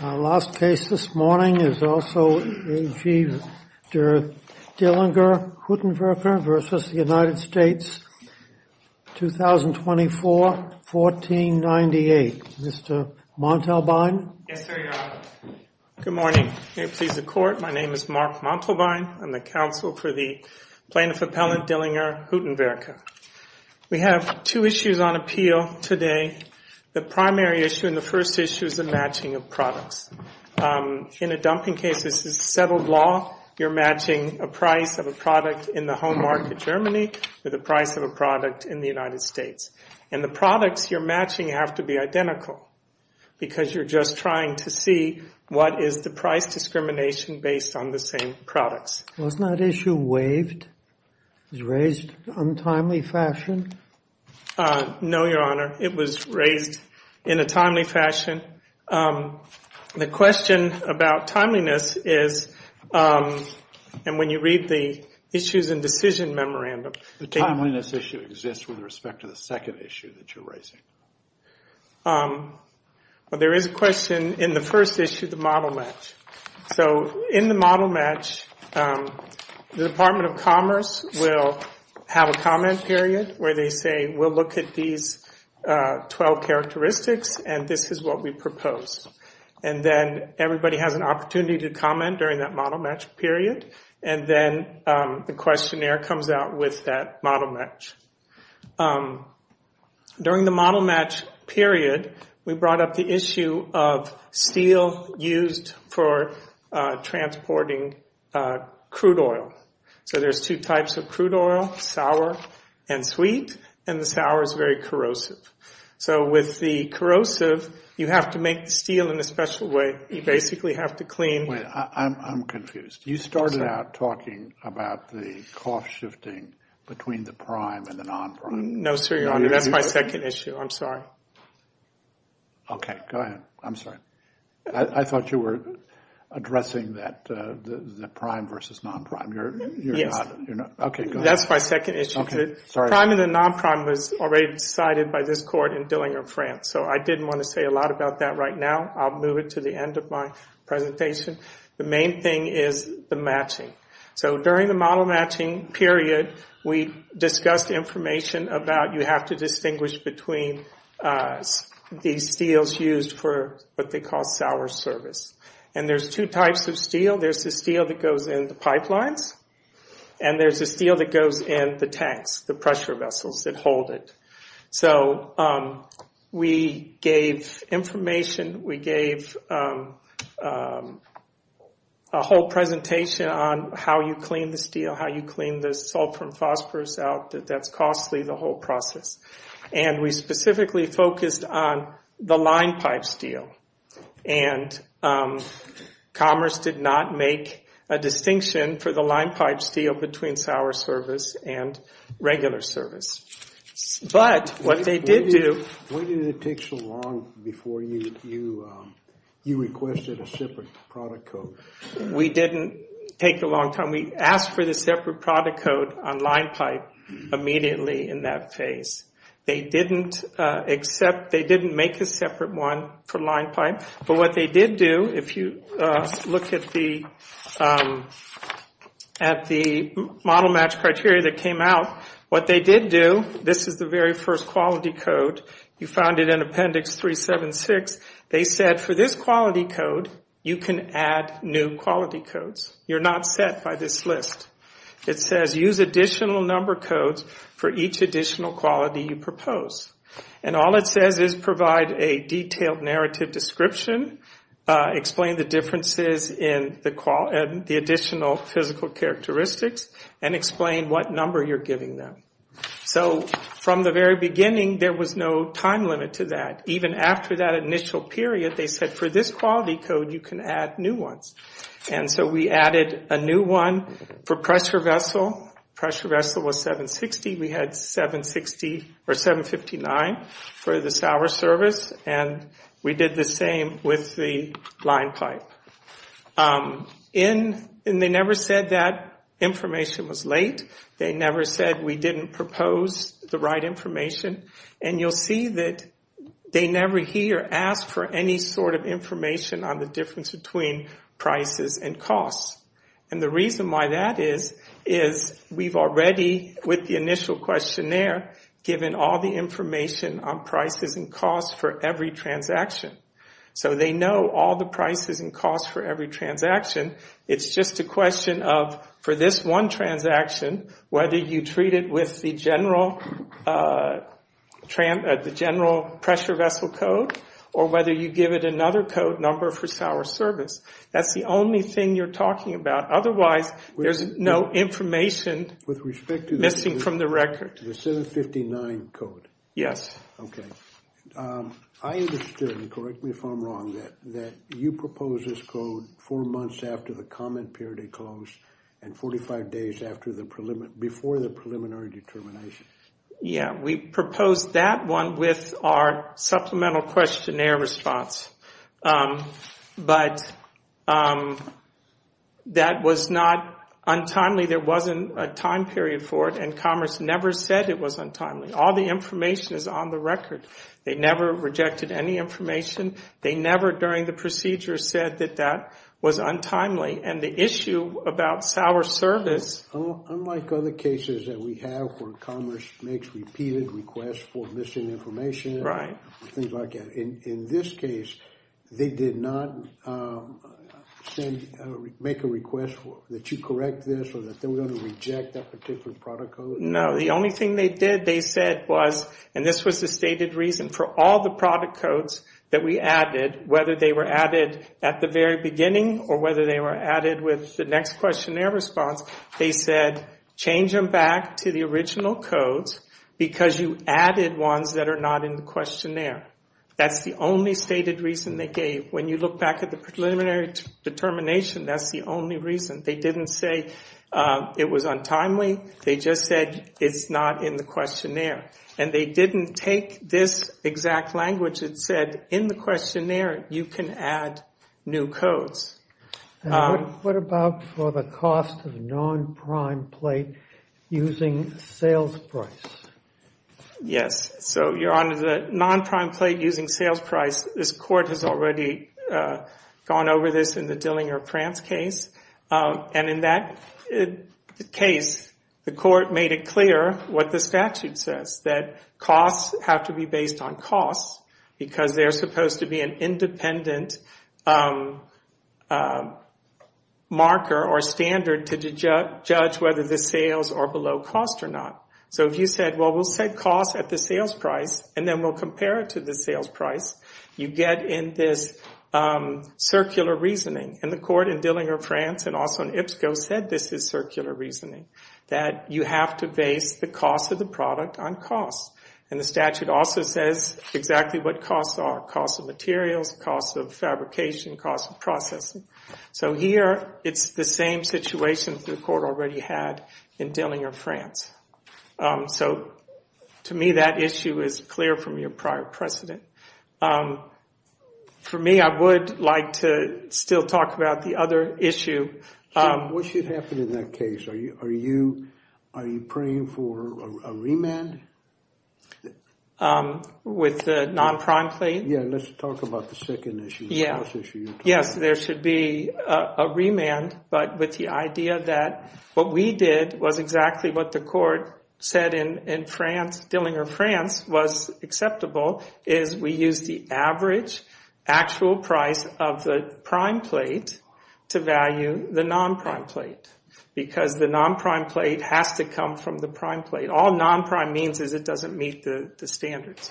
Our last case this morning is also AG der Dillinger Huttenwerke v. United States, 2024-1498. Mr. Montalbain? Yes, sir. Good morning. May it please the court, my name is Mark Montalbain. I'm the counsel for the plaintiff appellant Dillinger Huttenwerke. We have two issues on appeal today. The primary issue and the first issue is the matching of products. In a dumping case, this is settled law. You're matching a price of a product in the home market Germany with the price of a product in the United States. And the products you're matching have to be identical because you're just trying to see what is the price discrimination based on the same products. Wasn't that issue waived? It was raised in an untimely fashion? No, Your Honor. It was raised in a timely fashion. The question about timeliness is, and when you read the issues and decision memorandum, The timeliness issue exists with respect to the second issue that you're raising. There is a question in the first issue, the model match. So in the model match, the Department of Commerce will have a comment period where they say we'll look at these 12 characteristics and this is what we propose. And then everybody has an opportunity to comment during that model match period and then the questionnaire comes out with that model match. During the model match period, we brought up the issue of steel used for transporting crude oil. So there's two types of crude oil, sour and sweet. And the sour is very corrosive. So with the corrosive, you have to make steel in a special way. You basically have to clean. Wait, I'm confused. You started out talking about the cost shifting between the prime and the non-prime. No, sir, Your Honor. That's my second issue. I'm sorry. Okay, go ahead. I'm sorry. I thought you were addressing the prime versus non-prime. That's my second issue. The prime and the non-prime was already decided by this court in Dillinger, France. So I didn't want to say a lot about that right now. I'll move it to the end of my presentation. The main thing is the matching. So during the model matching period, we discussed information about you have to distinguish between these steels used for what they call sour service. And there's two types of steel. There's the steel that goes in the pipelines, and there's the steel that goes in the tanks, the pressure vessels that hold it. So we gave information. We gave a whole presentation on how you clean the steel, how you clean the salt from phosphorus out. That's costly, the whole process. And we specifically focused on the line pipe steel. And Commerce did not make a distinction for the line pipe steel between sour service and regular service. But what they did do... When did it take so long before you requested a separate product code? We didn't take a long time. We asked for the separate product code on line pipe immediately in that phase. They didn't make a separate one for line pipe. But what they did do, if you look at the model match criteria that came out, what they did do, this is the very first quality code. You found it in appendix 376. They said for this quality code, you can add new quality codes. You're not set by this list. It says use additional number codes for each additional quality you propose. And all it says is provide a detailed narrative description, explain the differences in the additional physical characteristics, and explain what number you're giving them. So from the very beginning, there was no time limit to that. Even after that initial period, they said for this quality code, you can add new ones. And so we added a new one for pressure vessel. Pressure vessel was 760. We had 760 or 759 for the sour service. And we did the same with the line pipe. And they never said that information was late. They never said we didn't propose the right information. And you'll see that they never here asked for any sort of information on the difference between prices and costs. And the reason why that is, is we've already, with the initial questionnaire, given all the information on prices and costs for every transaction. So they know all the prices and costs for every transaction. It's just a question of, for this one transaction, whether you treat it with the general pressure vessel code, or whether you give it another code number for sour service. That's the only thing you're talking about. Otherwise, there's no information missing from the record. The 759 code. Yes. I understand, correct me if I'm wrong, that you proposed this code four months after the comment period had closed, and 45 days before the preliminary determination. Yeah, we proposed that one with our supplemental questionnaire response. But that was not untimely. There wasn't a time period for it. And Commerce never said it was untimely. All the information is on the record. They never rejected any information. They never, during the procedure, said that that was untimely. And the issue about sour service. Unlike other cases that we have where Commerce makes repeated requests for missing information. Right. In this case, they did not make a request that you correct this, or that they were going to reject that particular product code? No, the only thing they did, they said was, and this was the stated reason, for all the product codes that we added, whether they were added at the very beginning, or whether they were added with the next questionnaire response, they said, change them back to the original codes because you added ones that are not in the questionnaire. That's the only stated reason they gave. When you look back at the preliminary determination, that's the only reason. They didn't say it was untimely. They just said it's not in the questionnaire. And they didn't take this exact language that said, in the questionnaire, you can add new codes. What about for the cost of non-prime plate using sales price? Yes. So, Your Honor, the non-prime plate using sales price, this court has already gone over this in the Dillinger-Prance case. And in that case, the court made it clear what the statute says, that costs have to be based on costs because they're supposed to be an independent marker or standard to judge whether the sales are below cost or not. So if you said, well, we'll set costs at the sales price and then we'll compare it to the sales price, you get in this circular reasoning. And the court in Dillinger-Prance and also in IPSCO said this is circular reasoning, that you have to base the cost of the product on costs. And the statute also says exactly what costs are, costs of materials, costs of fabrication, costs of processing. So here, it's the same situation the court already had in Dillinger-Prance. So to me, that issue is clear from your prior precedent. For me, I would like to still talk about the other issue. What should happen in that case? Are you praying for a remand? With the non-prime plate? Yeah, let's talk about the second issue. Yes, there should be a remand. But with the idea that what we did was exactly what the court said in France, what's acceptable is we use the average actual price of the prime plate to value the non-prime plate. Because the non-prime plate has to come from the prime plate. All non-prime means is it doesn't meet the standards.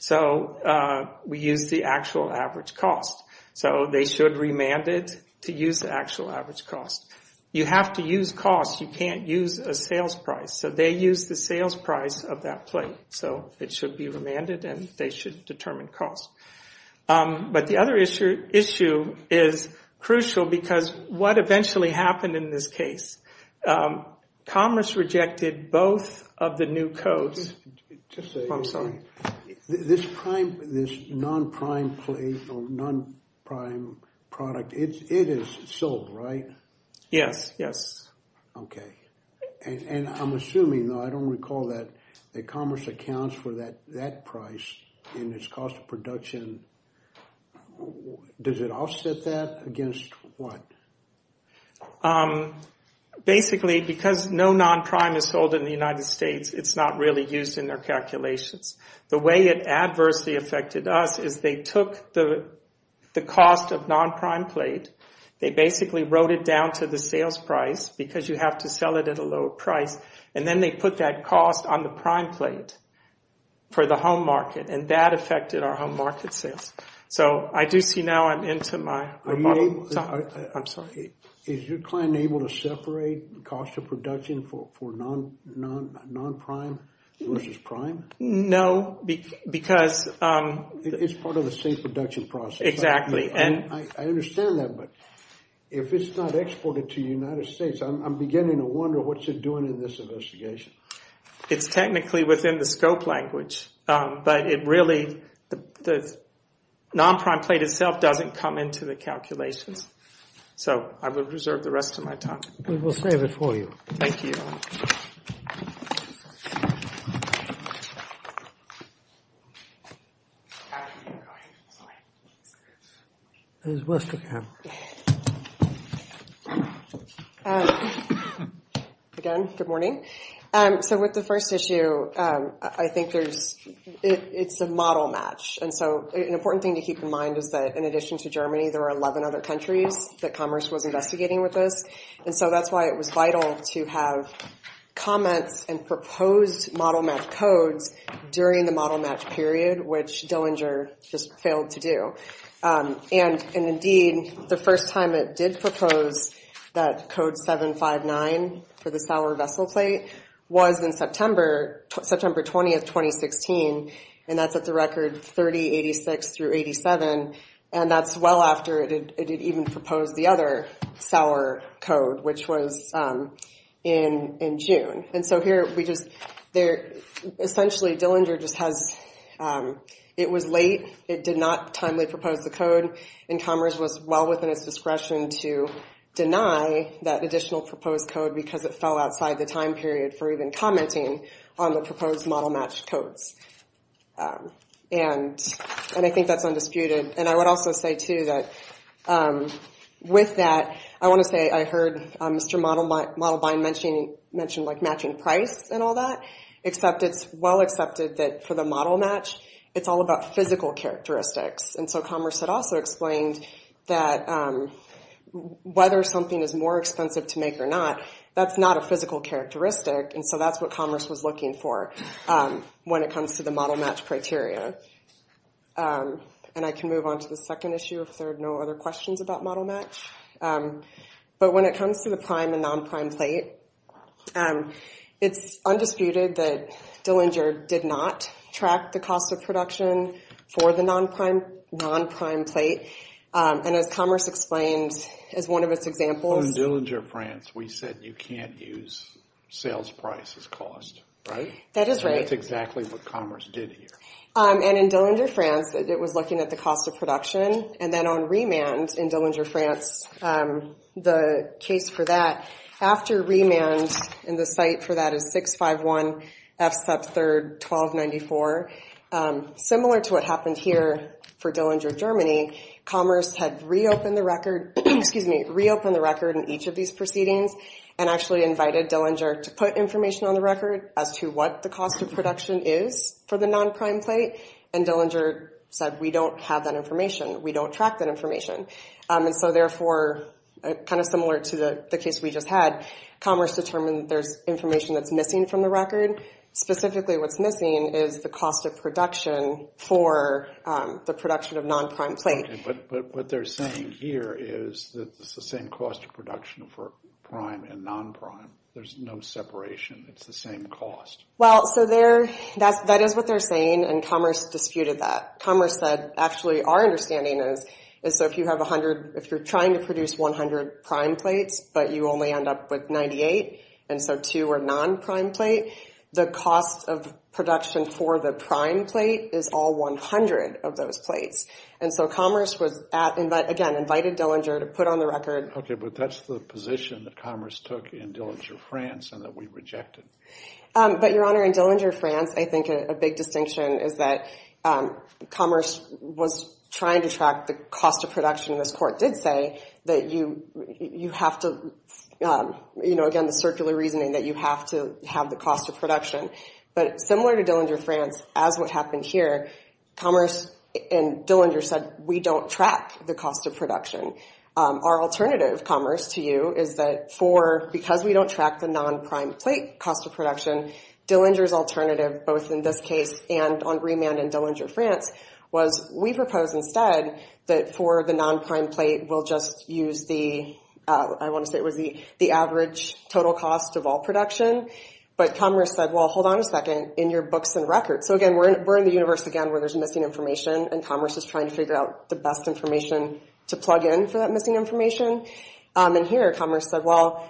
So we use the actual average cost. So they should remand it to use the actual average cost. You have to use costs, you can't use a sales price. So they use the sales price of that plate. So it should be remanded and they should determine costs. But the other issue is crucial because what eventually happened in this case? Commerce rejected both of the new codes. This non-prime plate or non-prime product, it is sold, right? Yes, yes. Okay. And I'm assuming, though I don't recall that, that commerce accounts for that price in its cost of production. Does it offset that against what? Basically, because no non-prime is sold in the United States, it's not really used in their calculations. The way it adversely affected us is they took the cost of non-prime plate, they basically wrote it down to the sales price because you have to sell it at a lower price, and then they put that cost on the prime plate for the home market, and that affected our home market sales. So I do see now I'm into my bottom. I'm sorry. Is your client able to separate the cost of production for non-prime versus prime? No, because – It's part of the same production process. Exactly. I understand that, but if it's not exported to the United States, I'm beginning to wonder what you're doing in this investigation. It's technically within the scope language, but it really – the non-prime plate itself doesn't come into the calculations. So I will reserve the rest of my time. We will save it for you. Thank you. Again, good morning. So with the first issue, I think there's – it's a model match, and so an important thing to keep in mind is that in addition to Germany, there are 11 other countries that Commerce was investigating with this, and so that's why it was vital to have comments and proposed model match codes during the model match period, which Dillinger just failed to do. And, indeed, the first time it did propose that code 759 for the Sauer vessel plate was in September 20, 2016, and that's at the record 3086 through 87, and that's well after it had even proposed the other Sauer code, which was in June. And so here we just – essentially, Dillinger just has – it was late. It did not timely propose the code, and Commerce was well within its discretion to deny that additional proposed code because it fell outside the time period for even commenting on the proposed model match codes. And I think that's undisputed. And I would also say, too, that with that, I want to say I heard Mr. Modelbind mention, like, matching price and all that, except it's well accepted that for the model match, it's all about physical characteristics. And so Commerce had also explained that whether something is more expensive to make or not, that's not a physical characteristic, and so that's what Commerce was looking for when it comes to the model match criteria. And I can move on to the second issue if there are no other questions about model match. But when it comes to the prime and non-prime plate, it's undisputed that Dillinger did not track the cost of production for the non-prime plate. And as Commerce explained as one of its examples – that you can't use sales price as cost, right? That is right. And that's exactly what Commerce did here. And in Dillinger, France, it was looking at the cost of production. And then on remand in Dillinger, France, the case for that, after remand in the site for that is 651 F sub 3, 1294. Similar to what happened here for Dillinger, Germany, Commerce had reopened the record in each of these proceedings and actually invited Dillinger to put information on the record as to what the cost of production is for the non-prime plate. And Dillinger said, we don't have that information. We don't track that information. And so therefore, kind of similar to the case we just had, Commerce determined there's information that's missing from the record. Specifically, what's missing is the cost of production for the production of non-prime plate. Okay, but what they're saying here is that it's the same cost of production for prime and non-prime. There's no separation. It's the same cost. Well, so that is what they're saying, and Commerce disputed that. Commerce said, actually, our understanding is, so if you're trying to produce 100 prime plates, but you only end up with 98, and so two are non-prime plate, the cost of production for the prime plate is all 100 of those plates. And so Commerce was, again, invited Dillinger to put on the record. Okay, but that's the position that Commerce took in Dillinger, France, and that we rejected. But, Your Honor, in Dillinger, France, I think a big distinction is that Commerce was trying to track the cost of production, and this court did say that you have to, you know, again, the circular reasoning that you have to have the cost of production. But similar to Dillinger, France, as what happened here, Commerce and Dillinger said, we don't track the cost of production. Our alternative, Commerce, to you, is that for, because we don't track the non-prime plate cost of production, Dillinger's alternative, both in this case and on remand in Dillinger, France, was we propose instead that for the non-prime plate, we'll just use the, I want to say it was the average total cost of all production. But Commerce said, well, hold on a second, in your books and records, so again, we're in the universe, again, where there's missing information, and Commerce is trying to figure out the best information to plug in for that missing information. And here Commerce said, well,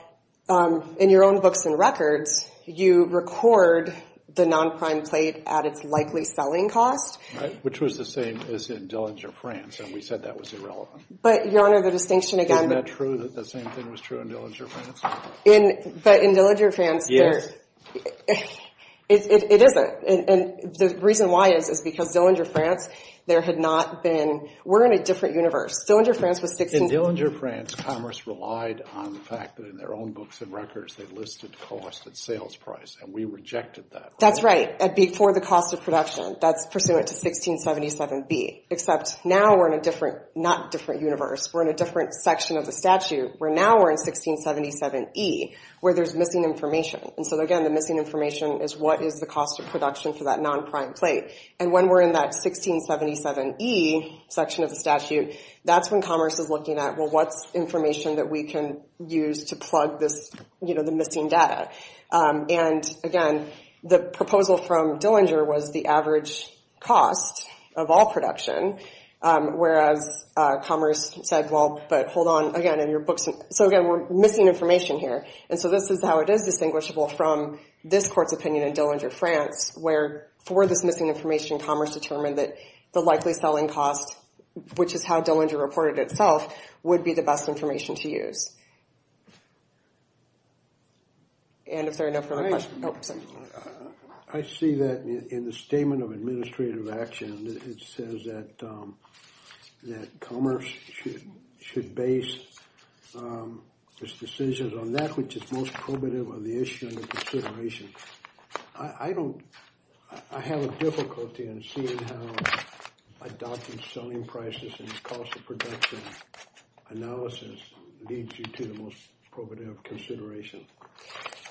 in your own books and records, you record the non-prime plate at its likely selling cost. Right, which was the same as in Dillinger, France, and we said that was irrelevant. But, Your Honor, the distinction again. Isn't that true that the same thing was true in Dillinger, France? But in Dillinger, France, it isn't. And the reason why is, is because Dillinger, France, there had not been, we're in a different universe. Dillinger, France was 16. In Dillinger, France, Commerce relied on the fact that in their own books and records, they listed cost at sales price, and we rejected that. That's right, for the cost of production. That's pursuant to 1677B. Except now we're in a different, not different universe. We're in a different section of the statute where now we're in 1677E where there's missing information. And so, again, the missing information is what is the cost of production for that non-prime plate. And when we're in that 1677E section of the statute, that's when Commerce is looking at, well, what's information that we can use to plug this, you know, the missing data. And, again, the proposal from Dillinger was the average cost of all production, whereas Commerce said, well, but hold on, again, in your books. So, again, we're missing information here. And so this is how it is distinguishable from this court's opinion in Dillinger, France, where for this missing information, Commerce determined that the likely selling cost, which is how Dillinger reported itself, would be the best information to use. And is there enough for the question? I see that in the Statement of Administrative Action, it says that Commerce should base its decisions on that, which is most probative of the issue and the consideration. I don't – I have a difficulty in seeing how adopting selling prices and the cost of production analysis leads you to the most probative consideration.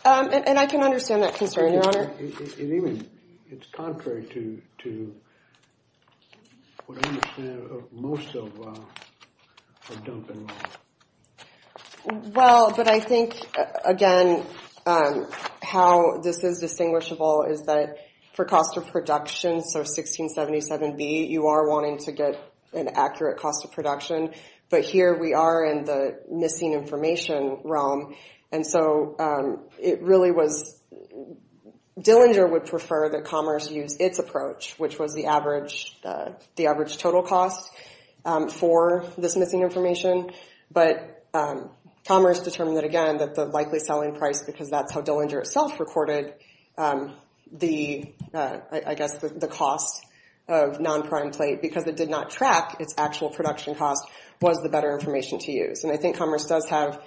And I can understand that concern, Your Honor. It even – it's contrary to what I understand most of our dumping law. Well, but I think, again, how this is distinguishable is that for cost of production, so 1677B, you are wanting to get an accurate cost of production. But here we are in the missing information realm. And so it really was – Dillinger would prefer that Commerce use its approach, which was the average total cost for this missing information. But Commerce determined that, again, that the likely selling price, because that's how Dillinger itself recorded the, I guess, the cost of non-prime plate, because it did not track its actual production cost, was the better information to use. And I think Commerce does have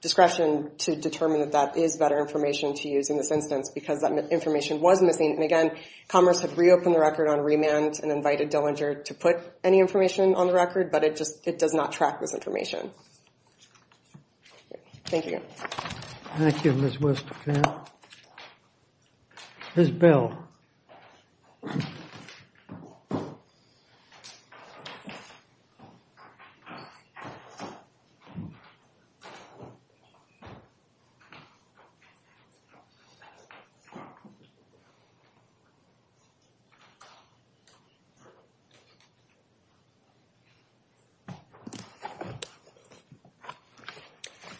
discretion to determine that that is better information to use in this instance because that information was missing. And, again, Commerce had reopened the record on remand and invited Dillinger to put any information on the record, but it just – it does not track this information. Thank you. Thank you, Ms. West. Ms. Bell.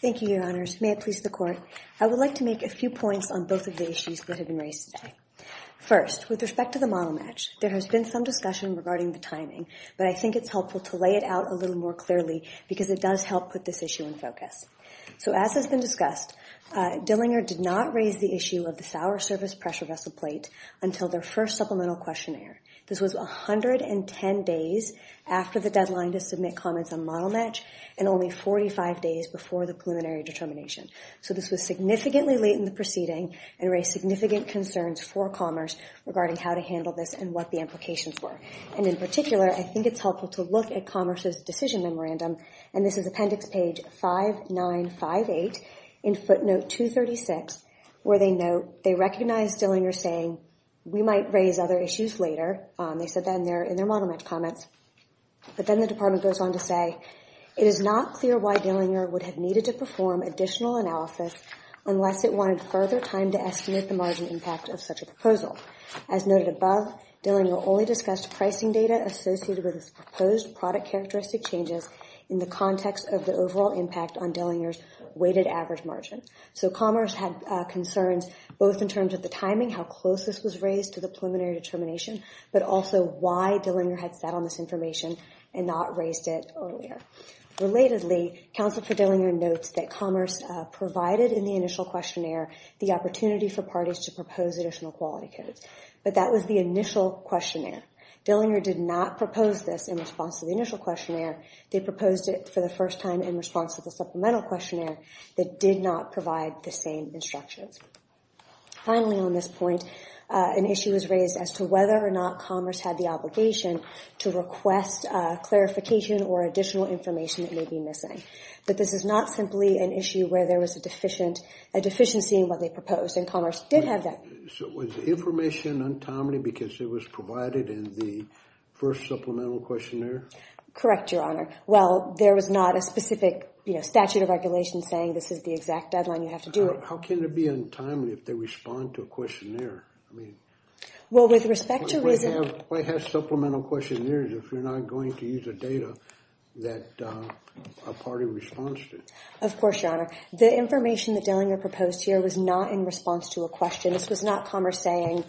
Thank you, Your Honors. May it please the Court. I would like to make a few points on both of the issues that have been raised today. First, with respect to the model match, there has been some discussion regarding the timing, but I think it's helpful to lay it out a little more clearly because it does help put this issue in focus. So as has been discussed, Dillinger did not raise the issue of the Sauer Service pressure vessel plate until their first supplemental questionnaire. This was 110 days after the deadline to submit comments on model match and only 45 days before the preliminary determination. So this was significantly late in the proceeding and raised significant concerns for Commerce regarding how to handle this and what the implications were. And in particular, I think it's helpful to look at Commerce's decision memorandum, and this is appendix page 5958 in footnote 236, where they note they recognize Dillinger saying, we might raise other issues later. They said that in their model match comments. But then the Department goes on to say, it is not clear why Dillinger would have needed to perform additional analysis unless it wanted further time to estimate the margin impact of such a proposal. As noted above, Dillinger only discussed pricing data associated with its proposed product characteristic changes in the context of the overall impact on Dillinger's weighted average margin. So Commerce had concerns both in terms of the timing, how close this was raised to the preliminary determination, but also why Dillinger had sat on this information and not raised it earlier. Relatedly, Counsel for Dillinger notes that Commerce provided in the initial questionnaire the opportunity for parties to propose additional quality codes. But that was the initial questionnaire. Dillinger did not propose this in response to the initial questionnaire. They proposed it for the first time in response to the supplemental questionnaire that did not provide the same instructions. Finally, on this point, an issue was raised as to whether or not Commerce had the obligation to request clarification or additional information that may be missing. But this is not simply an issue where there was a deficiency in what they proposed, and Commerce did have that. Was the information untimely because it was provided in the first supplemental questionnaire? Correct, Your Honor. Well, there was not a specific statute of regulations saying this is the exact deadline you have to do it. How can it be untimely if they respond to a questionnaire? Well, with respect to reason— Why have supplemental questionnaires if you're not going to use the data that a party responds to? Of course, Your Honor. The information that Dillinger proposed here was not in response to a question. This was not Commerce saying,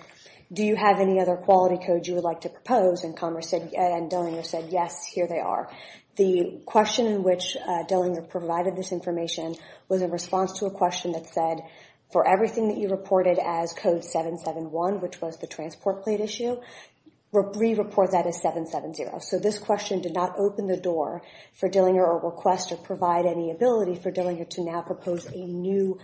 do you have any other quality codes you would like to propose? And Commerce and Dillinger said, yes, here they are. The question in which Dillinger provided this information was in response to a question that said, for everything that you reported as code 771, which was the transport plate issue, re-report that as 770. So this question did not open the door for Dillinger or request or provide any ability for Dillinger to now propose a new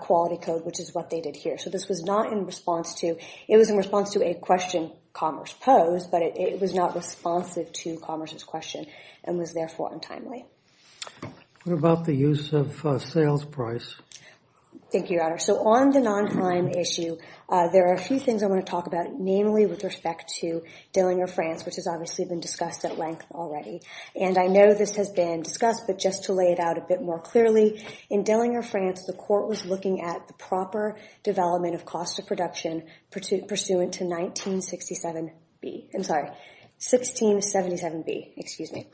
quality code, which is what they did here. So this was not in response to—it was in response to a question Commerce posed, but it was not responsive to Commerce's question and was therefore untimely. What about the use of sales price? Thank you, Your Honor. So on the non-prime issue, there are a few things I want to talk about, namely with respect to Dillinger France, which has obviously been discussed at length already. And I know this has been discussed, but just to lay it out a bit more clearly, in Dillinger France, the court was looking at the proper development of cost of production pursuant to 1967B. I'm sorry, 1677B, excuse me.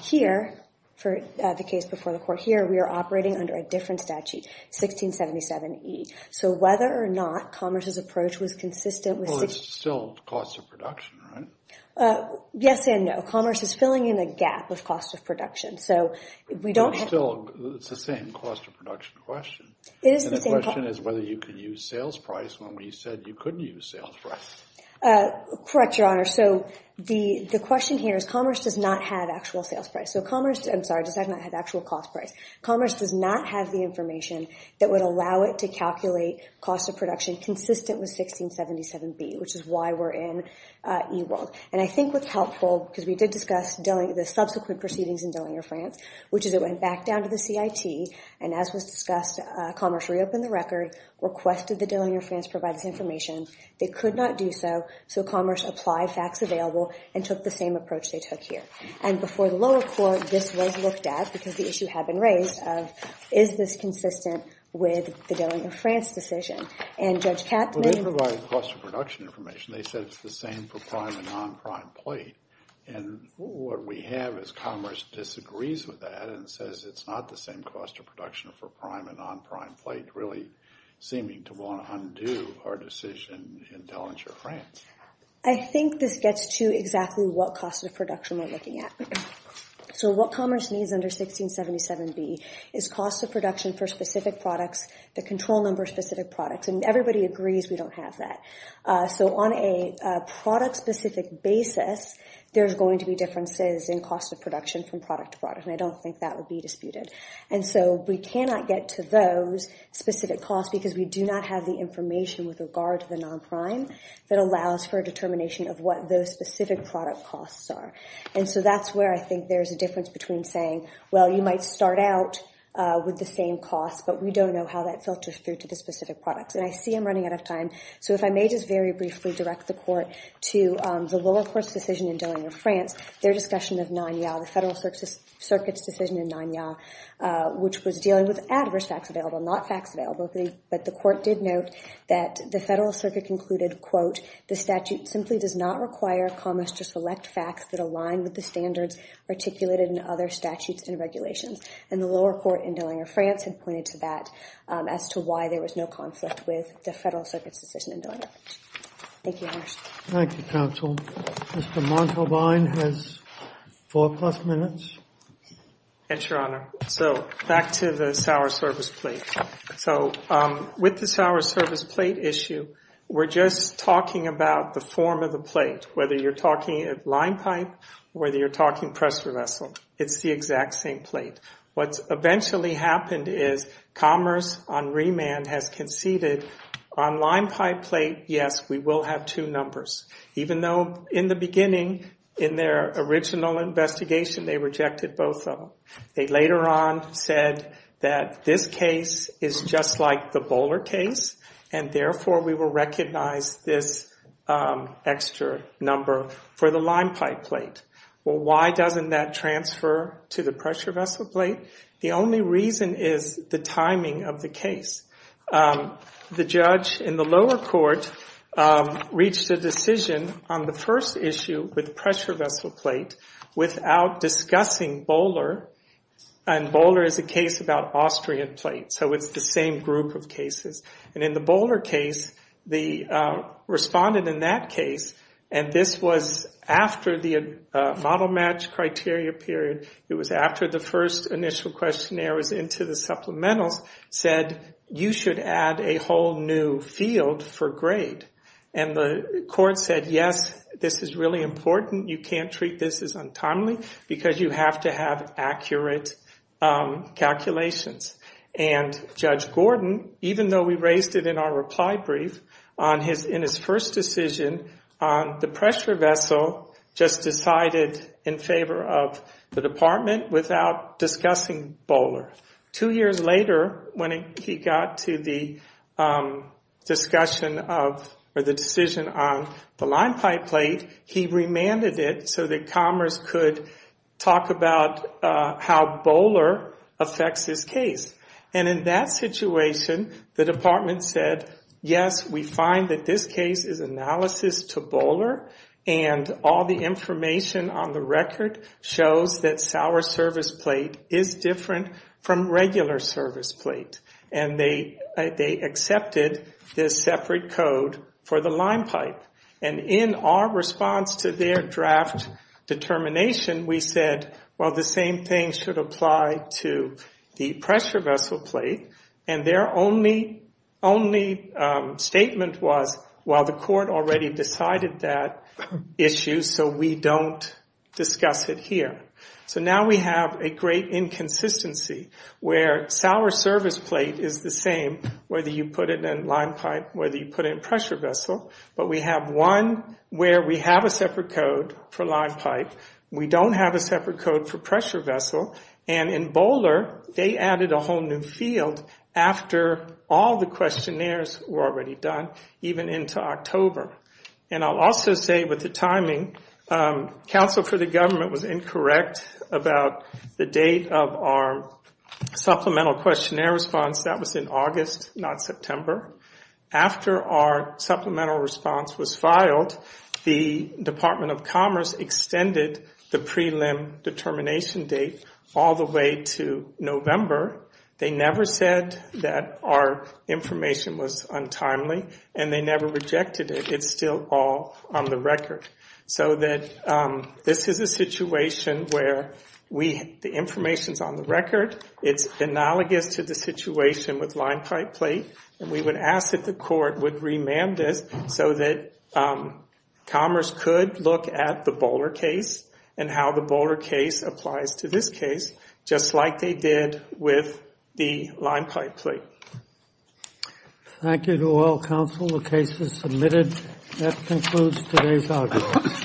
Here, for the case before the court here, we are operating under a different statute, 1677E. So whether or not Commerce's approach was consistent with— Well, it's still cost of production, right? Yes and no. Commerce is filling in a gap of cost of production. It's the same cost of production question. And the question is whether you could use sales price when we said you couldn't use sales price. Correct, Your Honor. So the question here is Commerce does not have actual sales price. So Commerce—I'm sorry, does not have actual cost price. Commerce does not have the information that would allow it to calculate cost of production consistent with 1677B, which is why we're in E-World. And I think what's helpful, because we did discuss the subsequent proceedings in Dillinger France, which is it went back down to the CIT, and as was discussed, Commerce reopened the record, requested that Dillinger France provide this information. They could not do so, so Commerce applied facts available and took the same approach they took here. And before the lower court, this was looked at because the issue had been raised of, is this consistent with the Dillinger France decision? And Judge Katz— Well, they provided cost of production information. They said it's the same for prime and non-prime plate. And what we have is Commerce disagrees with that and says it's not the same cost of production for prime and non-prime plate, really seeming to want to undo our decision in Dillinger France. I think this gets to exactly what cost of production we're looking at. So what Commerce needs under 1677B is cost of production for specific products, the control number of specific products. And everybody agrees we don't have that. So on a product-specific basis, there's going to be differences in cost of production from product to product, and I don't think that would be disputed. And so we cannot get to those specific costs because we do not have the information with regard to the non-prime that allows for a determination of what those specific product costs are. And so that's where I think there's a difference between saying, well, you might start out with the same cost, but we don't know how that filters through to the specific products. And I see I'm running out of time. So if I may just very briefly direct the Court to the lower court's decision in Dillinger France, their discussion of NANYA, the Federal Circuit's decision in NANYA, which was dealing with adverse facts available, not facts available. But the Court did note that the Federal Circuit concluded, quote, the statute simply does not require Commerce to select facts that align with the standards articulated in other statutes and regulations. And the lower court in Dillinger France had pointed to that as to why there was no conflict with the Federal Circuit's decision in Dillinger France. Thank you, Your Honor. Thank you, counsel. Mr. Montalbain has four plus minutes. Yes, Your Honor. So back to the Sour Service Plate. So with the Sour Service Plate issue, we're just talking about the form of the plate, whether you're talking line pipe, whether you're talking pressure vessel. It's the exact same plate. What eventually happened is Commerce on remand has conceded on line pipe plate, yes, we will have two numbers, even though in the beginning, in their original investigation, they rejected both of them. They later on said that this case is just like the Bowler case, and therefore we will recognize this extra number for the line pipe plate. Well, why doesn't that transfer to the pressure vessel plate? The only reason is the timing of the case. The judge in the lower court reached a decision on the first issue with pressure vessel plate without discussing Bowler, and Bowler is a case about Austrian plate, so it's the same group of cases. And in the Bowler case, the respondent in that case, and this was after the model match criteria period, it was after the first initial questionnaire was into the supplementals, said you should add a whole new field for grade. And the court said, yes, this is really important. You can't treat this as untimely because you have to have accurate calculations. And Judge Gordon, even though we raised it in our reply brief, in his first decision on the pressure vessel, just decided in favor of the department without discussing Bowler. Two years later, when he got to the decision on the line pipe plate, he remanded it so that Commerce could talk about how Bowler affects this case. And in that situation, the department said, yes, we find that this case is analysis to Bowler, and all the information on the record shows that sour service plate is different from regular service plate. And they accepted this separate code for the line pipe. And in our response to their draft determination, we said, well, the same thing should apply to the pressure vessel plate. And their only statement was, well, the court already decided that issue, so we don't discuss it here. So now we have a great inconsistency where sour service plate is the same, whether you put it in line pipe, whether you put it in pressure vessel, but we have one where we have a separate code for line pipe. We don't have a separate code for pressure vessel. And in Bowler, they added a whole new field after all the questionnaires were already done, even into October. And I'll also say with the timing, counsel for the government was incorrect about the date of our supplemental questionnaire response. That was in August, not September. After our supplemental response was filed, the Department of Commerce extended the prelim determination date all the way to November. They never said that our information was untimely, and they never rejected it. It's still all on the record. So this is a situation where the information is on the record. It's analogous to the situation with line pipe plate, and we would ask that the court would remand this so that Commerce could look at the Bowler case and how the Bowler case applies to this case, just like they did with the line pipe plate. Thank you to all counsel. The case is submitted. That concludes today's audience.